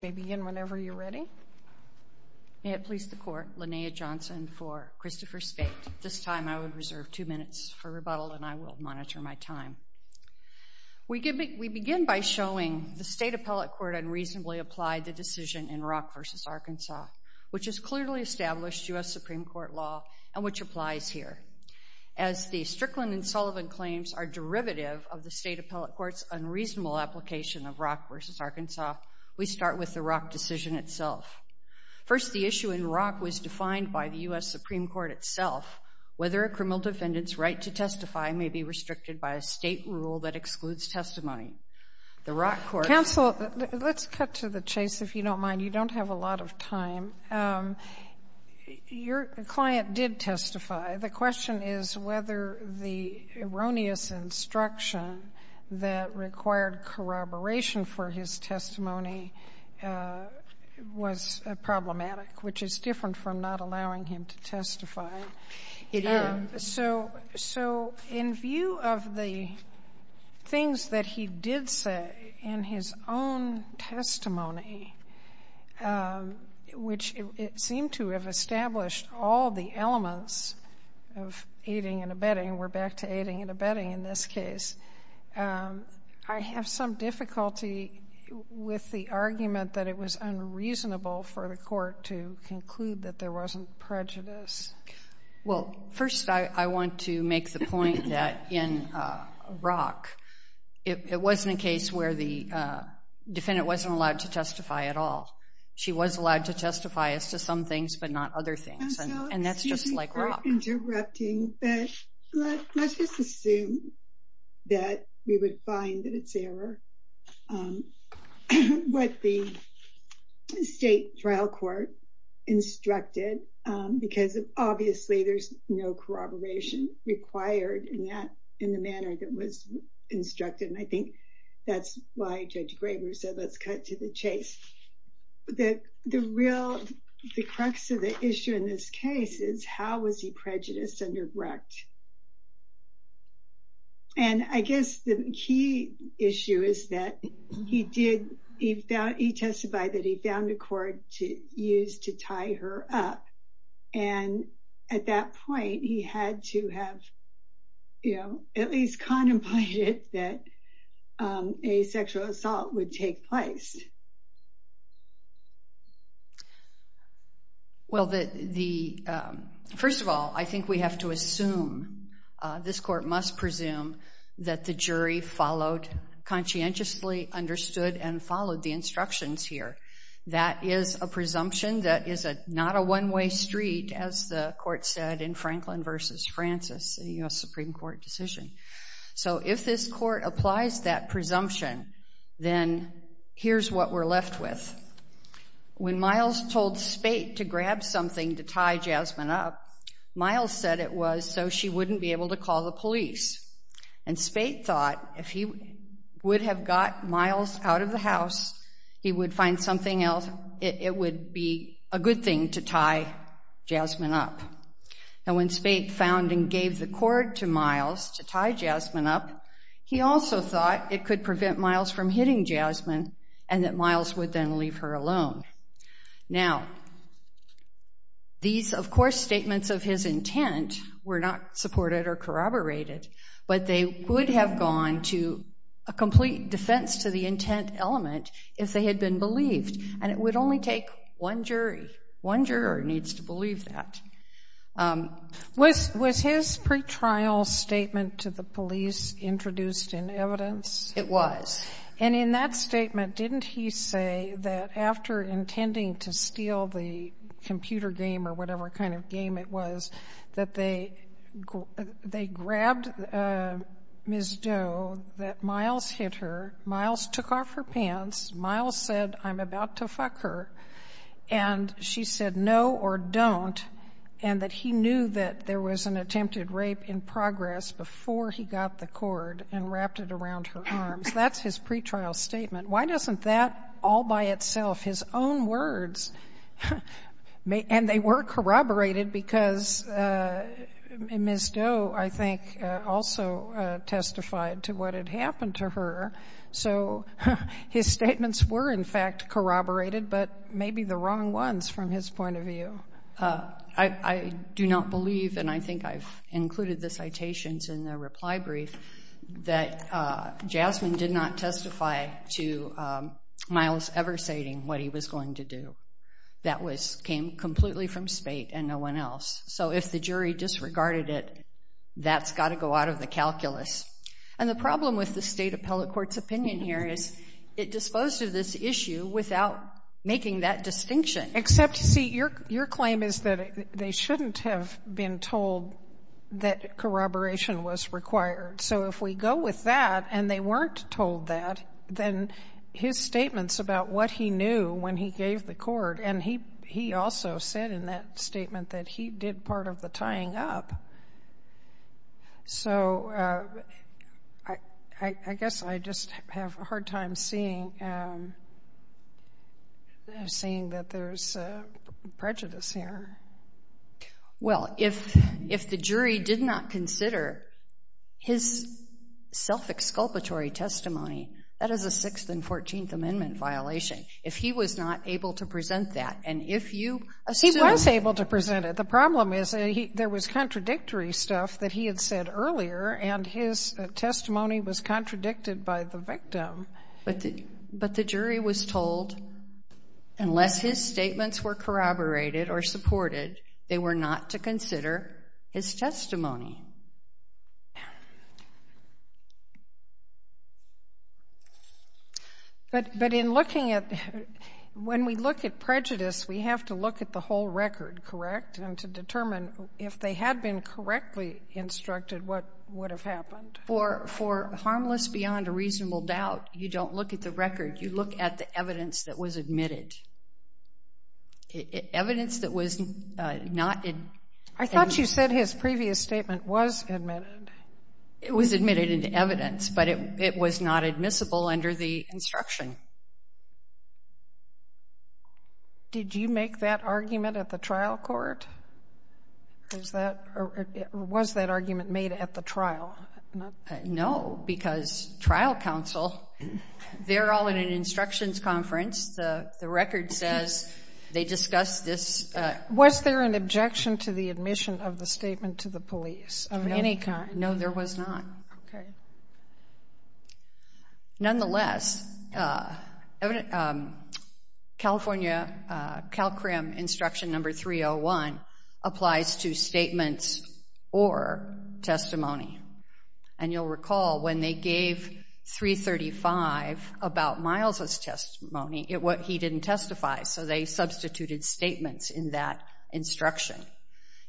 We begin by showing the State Appellate Court unreasonably applied the decision in Rock v. Arkansas, which is clearly established U.S. Supreme Court law and which applies here. As the Strickland and Sullivan claims are derivative of the State Appellate Court's unreasonable application of Rock v. Arkansas, we start with the Rock decision itself. First, the issue in Rock was defined by the U.S. Supreme Court itself, whether a criminal defendant's right to testify may be restricted by a state rule that excludes testimony. The Rock court Counsel, let's cut to the chase if you don't mind. You don't have a lot of time. Your client did testify. The question is whether the erroneous instruction that required corroboration for his testimony was problematic, which is different from not allowing him to testify. It is. So in view of the things that he did say in his own testimony, which it seemed to have established all the elements of aiding and abetting, and we're back to aiding and abetting in this case, I have some difficulty with the argument that it was unreasonable for the court to conclude that there wasn't prejudice. Well, first, I want to make the point that in Rock, it wasn't a case where the defendant wasn't allowed to testify at all. She was allowed to testify as to some things but not other things. And that's just like Rock. So excuse me for interrupting, but let's just assume that we would find that it's error what the state trial court instructed because obviously there's no corroboration required in the manner that was instructed. And I think that's why Judge Graber said let's cut to the chase, that the real, the crux of the issue in this case is how was he prejudiced under Brecht? And I guess the key issue is that he did, he testified that he found a court to use to tie her up. And at that point, he had to have, you know, at least contemplated that a sexual assault would take place. Well, the, first of all, I think we have to assume, this court must presume that the jury followed, conscientiously understood and followed the instructions here. That is a presumption that is not a one-way street, as the court said in Franklin v. Francis, a U.S. Supreme Court decision. So if this court applies that presumption, then here's what we're left with. When Miles told Spate to grab something to tie Jasmine up, Miles said it was so she wouldn't be able to call the police. And Spate thought if he would have got Miles out of the house, he would find something else, it would be a good thing to tie Jasmine up. And when Spate found and gave the cord to Miles to tie Jasmine up, he also thought it could prevent Miles from hitting Jasmine and that Miles would then leave her alone. Now, these, of course, statements of his intent were not supported or corroborated, but they would have gone to a complete defense to the intent element if they had been believed. And it would only take one jury. One jury needs to believe that. Was his pretrial statement to the police introduced in evidence? It was. And in that statement, didn't he say that after intending to steal the computer game or whatever kind of game it was, that they grabbed Ms. Doe, that Miles hit her, Miles took off her pants, Miles said, I'm about to fuck her, and she said no or don't, and that he knew that there was an attempted rape in progress before he got the cord and wrapped it around her arms. That's his pretrial statement. Why doesn't that all by itself, his own words, and they were corroborated because Ms. Doe, I think, also testified to what had happened to her. So his statements were, in fact, corroborated, but maybe the wrong ones from his point of view. I do not believe, and I think I've included the citations in the reply brief, that Jasmine did not testify to Miles ever stating what he was going to do. That came completely from That's got to go out of the calculus. And the problem with the State Appellate Court's opinion here is it disposed of this issue without making that distinction. Except, see, your claim is that they shouldn't have been told that corroboration was required. So if we go with that and they weren't told that, then his statements about what he knew when he gave the cord, and he also said in that statement that he did part of the tying up. So I guess I just have a hard time seeing that there's prejudice here. Well, if the jury did not consider his self-exculpatory testimony, that is a Sixth and Fourteenth Amendment violation. If he was not able to present that, and if you assume— There's contradictory stuff that he had said earlier, and his testimony was contradicted by the victim. But the jury was told, unless his statements were corroborated or supported, they were not to consider his testimony. But in looking at—when we look at prejudice, we have to look at the whole record, correct? And to determine if they had been correctly instructed, what would have happened? For harmless beyond a reasonable doubt, you don't look at the record. You look at the evidence that was admitted. Evidence that was not— I thought you said his previous statement was admitted. It was admitted into evidence, but it was not admissible under the instruction. Did you make that argument at the trial court? Was that argument made at the trial? No, because trial counsel, they're all in an instructions conference. The record says they discussed this— Was there an objection to the admission of the statement to the police of any kind? No, there was not. Nonetheless, California CalCRIM instruction number 301 applies to statements or testimony. And you'll recall when they gave 335 about Miles' testimony, he didn't testify, so they substituted statements in that instruction.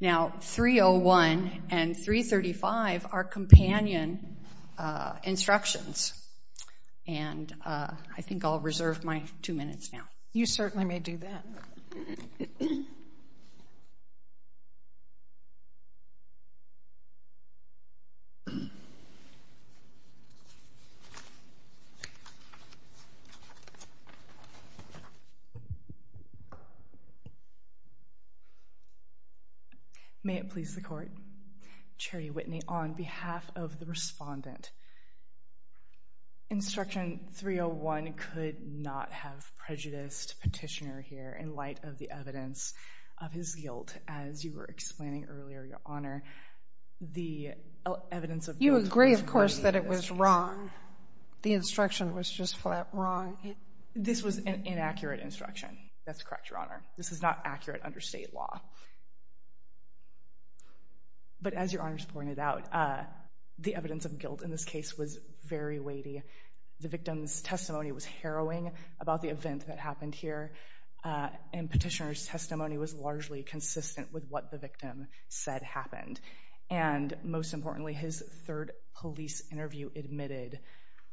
Now, 301 and 335 are companion instructions, and I think I'll reserve my two minutes now. You certainly may do that. May it please the Court, Charity Whitney, on behalf of the respondent, instruction 301 could not have prejudiced Petitioner here in light of the evidence of his guilt. As you were explaining earlier, Your Honor, the evidence of— You agree, of course, that it was wrong. The instruction was just flat wrong. This was an inaccurate instruction. That's correct, Your Honor. This is not accurate under state law. But as Your Honors pointed out, the evidence of guilt in this case was very weighty. The victim's testimony was harrowing about the event that happened here, and Petitioner's testimony was largely consistent with what the victim said happened. And most importantly, his third police interview admitted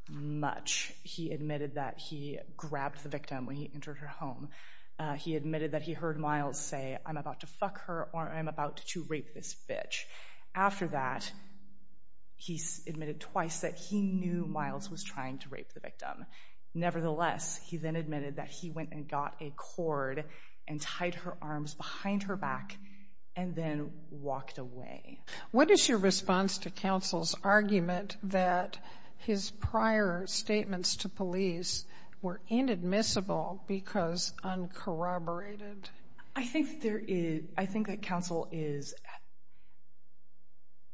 much. He admitted that he grabbed the victim when he entered her home. He admitted that he heard Miles say, I'm about to fuck her or I'm about to rape this bitch. After that, he admitted twice that he knew Miles was trying to rape the victim. Nevertheless, he then admitted that he went and got a cord and tied her arms behind her back and then walked away. What is your response to counsel's argument that his prior statements to police were inadmissible because uncorroborated? I think that counsel is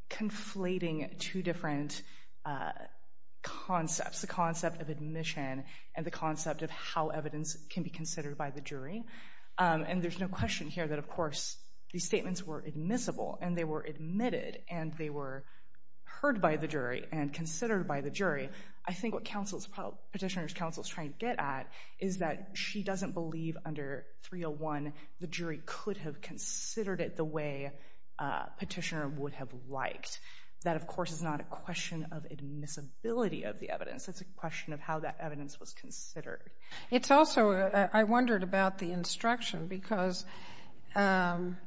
conflating two different concepts, the concept of admission and the concept of how evidence can be considered by the jury. And there's no question here that, of course, these statements were admissible and they were admitted and they were heard by the jury and considered by the jury. I think what Petitioner's counsel is trying to get at is that she doesn't believe under 301 the jury could have considered it the way Petitioner would have liked. That, of course, is not a question of admissibility of the evidence. It's a question of how that evidence was considered. It's also, I wondered about the instruction because the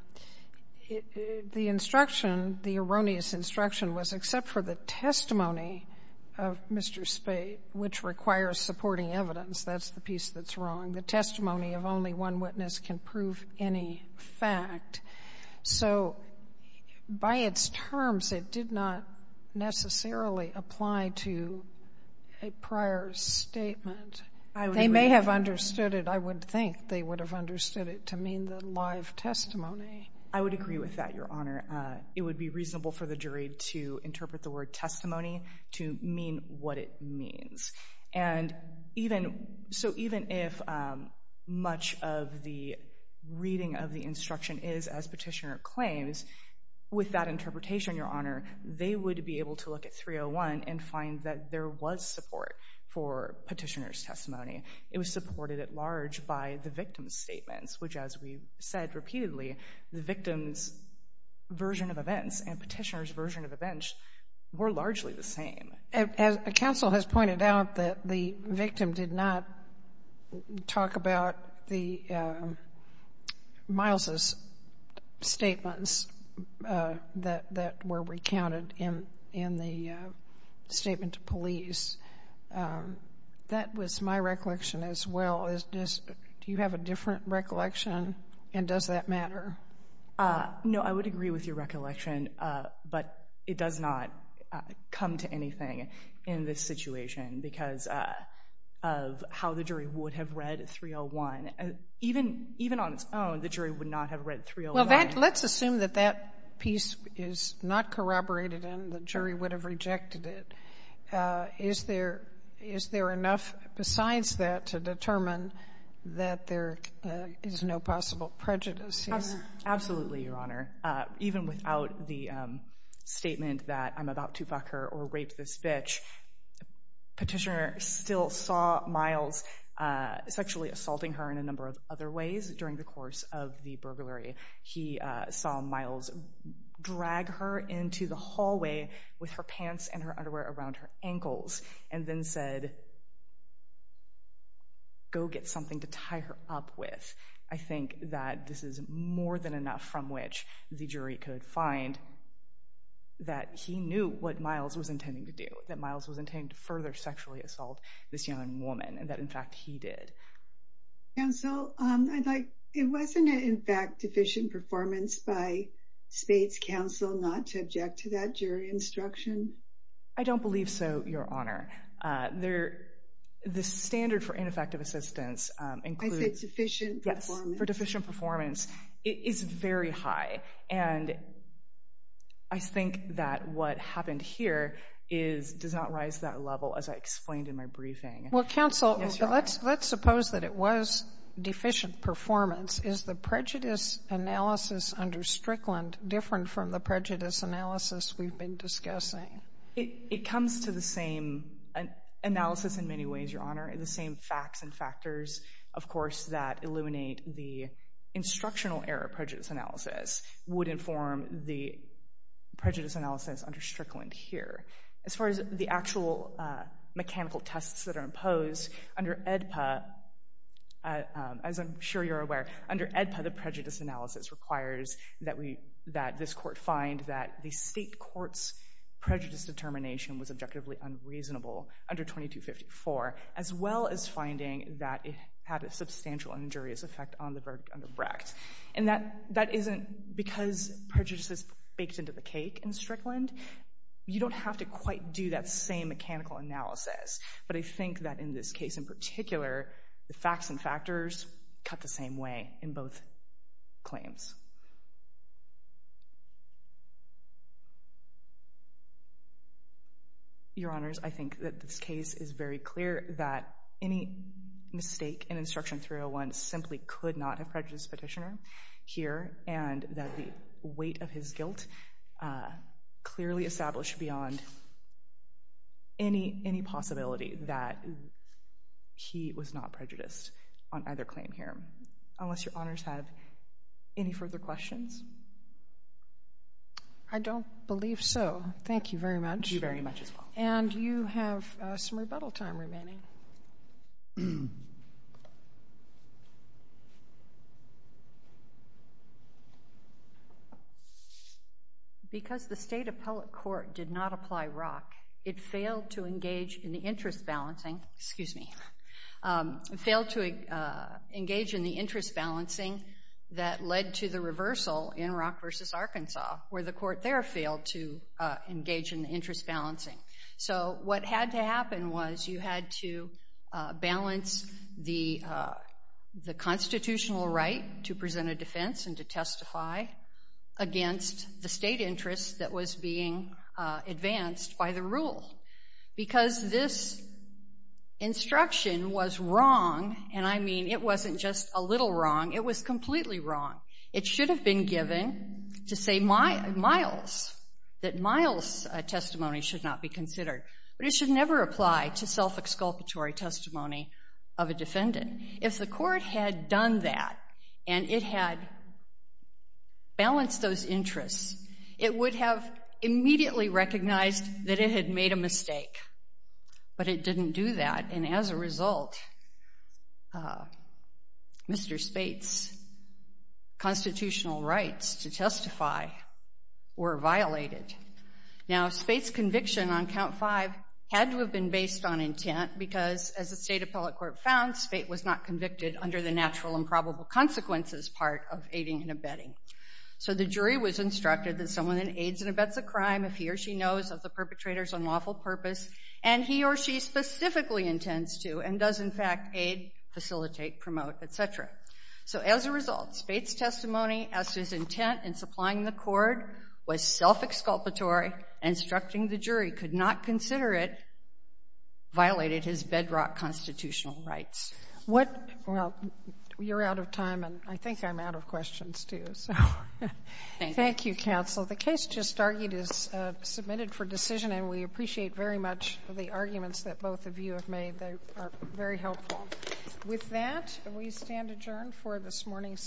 instruction, the erroneous instruction was except for the testimony of Mr. Spade, which requires supporting evidence. That's the piece that's wrong. The testimony of only one witness can prove any fact. So by its terms, it did not necessarily apply to a prior statement. I would agree with that. They may have understood it. I would think they would have understood it to mean the live testimony. I would agree with that, Your Honor. It would be reasonable for the jury to interpret the word testimony to mean what it means. And even, so even if much of the reading of the instruction is as Petitioner claims, with that interpretation, Your Honor, they would be able to look at 301 and find that there was support for Petitioner's testimony. It was supported at large by the victim's statements, which as we've said repeatedly, the victim's version of events and Petitioner's version of events were largely the same. As counsel has pointed out that the victim did not talk about the Miles' statements that were recounted in the statement to police. That was my recollection as well. Do you have a different recollection, and does that matter? No, I would agree with your recollection, but it does not come to anything in this situation because of how the jury would have read 301. Even on its own, the jury would not have read 301. Well, let's assume that that piece is not corroborated and the jury would have rejected it. Is there enough besides that to determine that there is no possible prejudice? Absolutely, Your Honor. Even without the statement that I'm about to fuck her or rape this bitch, Petitioner still saw Miles sexually assaulting her in a number of other ways during the course of the burglary. He saw Miles drag her into the hallway with her pants and her underwear around her ankles and then said, go get something to tie her up with. I think that this is more than enough from which the jury could find that he knew what Miles was intending to do, that Miles was intending to further sexually assault this young woman, and that in fact he did. Counsel, it wasn't, in fact, deficient performance by Spade's counsel not to object to that jury instruction? I don't believe so, Your Honor. The standard for ineffective assistance includes... I said sufficient performance. For deficient performance, it is very high, and I think that what happened here does not rise to that level as I explained in my briefing. Well, counsel, let's suppose that it was deficient performance. Is the prejudice analysis under Strickland different from the prejudice analysis we've been discussing? It comes to the same analysis in many ways, Your Honor. The same facts and factors, of course, that illuminate the instructional error prejudice analysis would inform the prejudice analysis under Strickland here. As far as the actual mechanical tests that are imposed, under AEDPA, as I'm sure you're aware, under AEDPA the prejudice analysis requires that this court find that the state court's prejudice determination was objectively unreasonable under 2254, as well as finding that it had a substantial injurious effect on the Brecht. And that isn't because prejudice is baked into the cake in Strickland. You don't have to quite do that same mechanical analysis. But I think that in this case in particular, the facts and factors cut the same way in both claims. Your Honors, I think that this case is very clear that any mistake in Instruction 301 simply could not have prejudiced the petitioner here, and that the weight of his guilt clearly established beyond any possibility that he was not prejudiced on either claim here. Unless Your Honors have any further questions? I don't believe so. Thank you very much. Thank you very much as well. And you have some rebuttal time remaining. Because the State Appellate Court did not apply ROC, it failed to engage in the interest balancing, excuse me, failed to engage in the interest balancing that led to the reversal in ROC v. Arkansas, where the court there failed to engage in the interest balancing. So what had to happen was you had to balance the constitutional right to present a defense and to testify against the state interest that was being advanced by the rule. Because this instruction was wrong, and I mean it wasn't just a little wrong, it was completely considered. But it should never apply to self-exculpatory testimony of a defendant. If the court had done that, and it had balanced those interests, it would have immediately recognized that it had made a mistake. But it didn't do that, and as a result, Mr. Spate's testimony on count five had to have been based on intent, because as the State Appellate Court found, Spate was not convicted under the natural and probable consequences part of aiding and abetting. So the jury was instructed that someone aids and abets a crime if he or she knows of the perpetrator's unlawful purpose, and he or she specifically intends to and does in fact aid, facilitate, promote, et cetera. So as a result, Spate's testimony as to his intent in supplying the court was self-exculpatory, and instructing the jury could not consider it violated his bedrock constitutional rights. Well, you're out of time, and I think I'm out of questions, too. So thank you, counsel. The case just argued is submitted for decision, and we appreciate very much the arguments that both of you have made. They are very helpful. With that, we stand adjourned for this morning's session.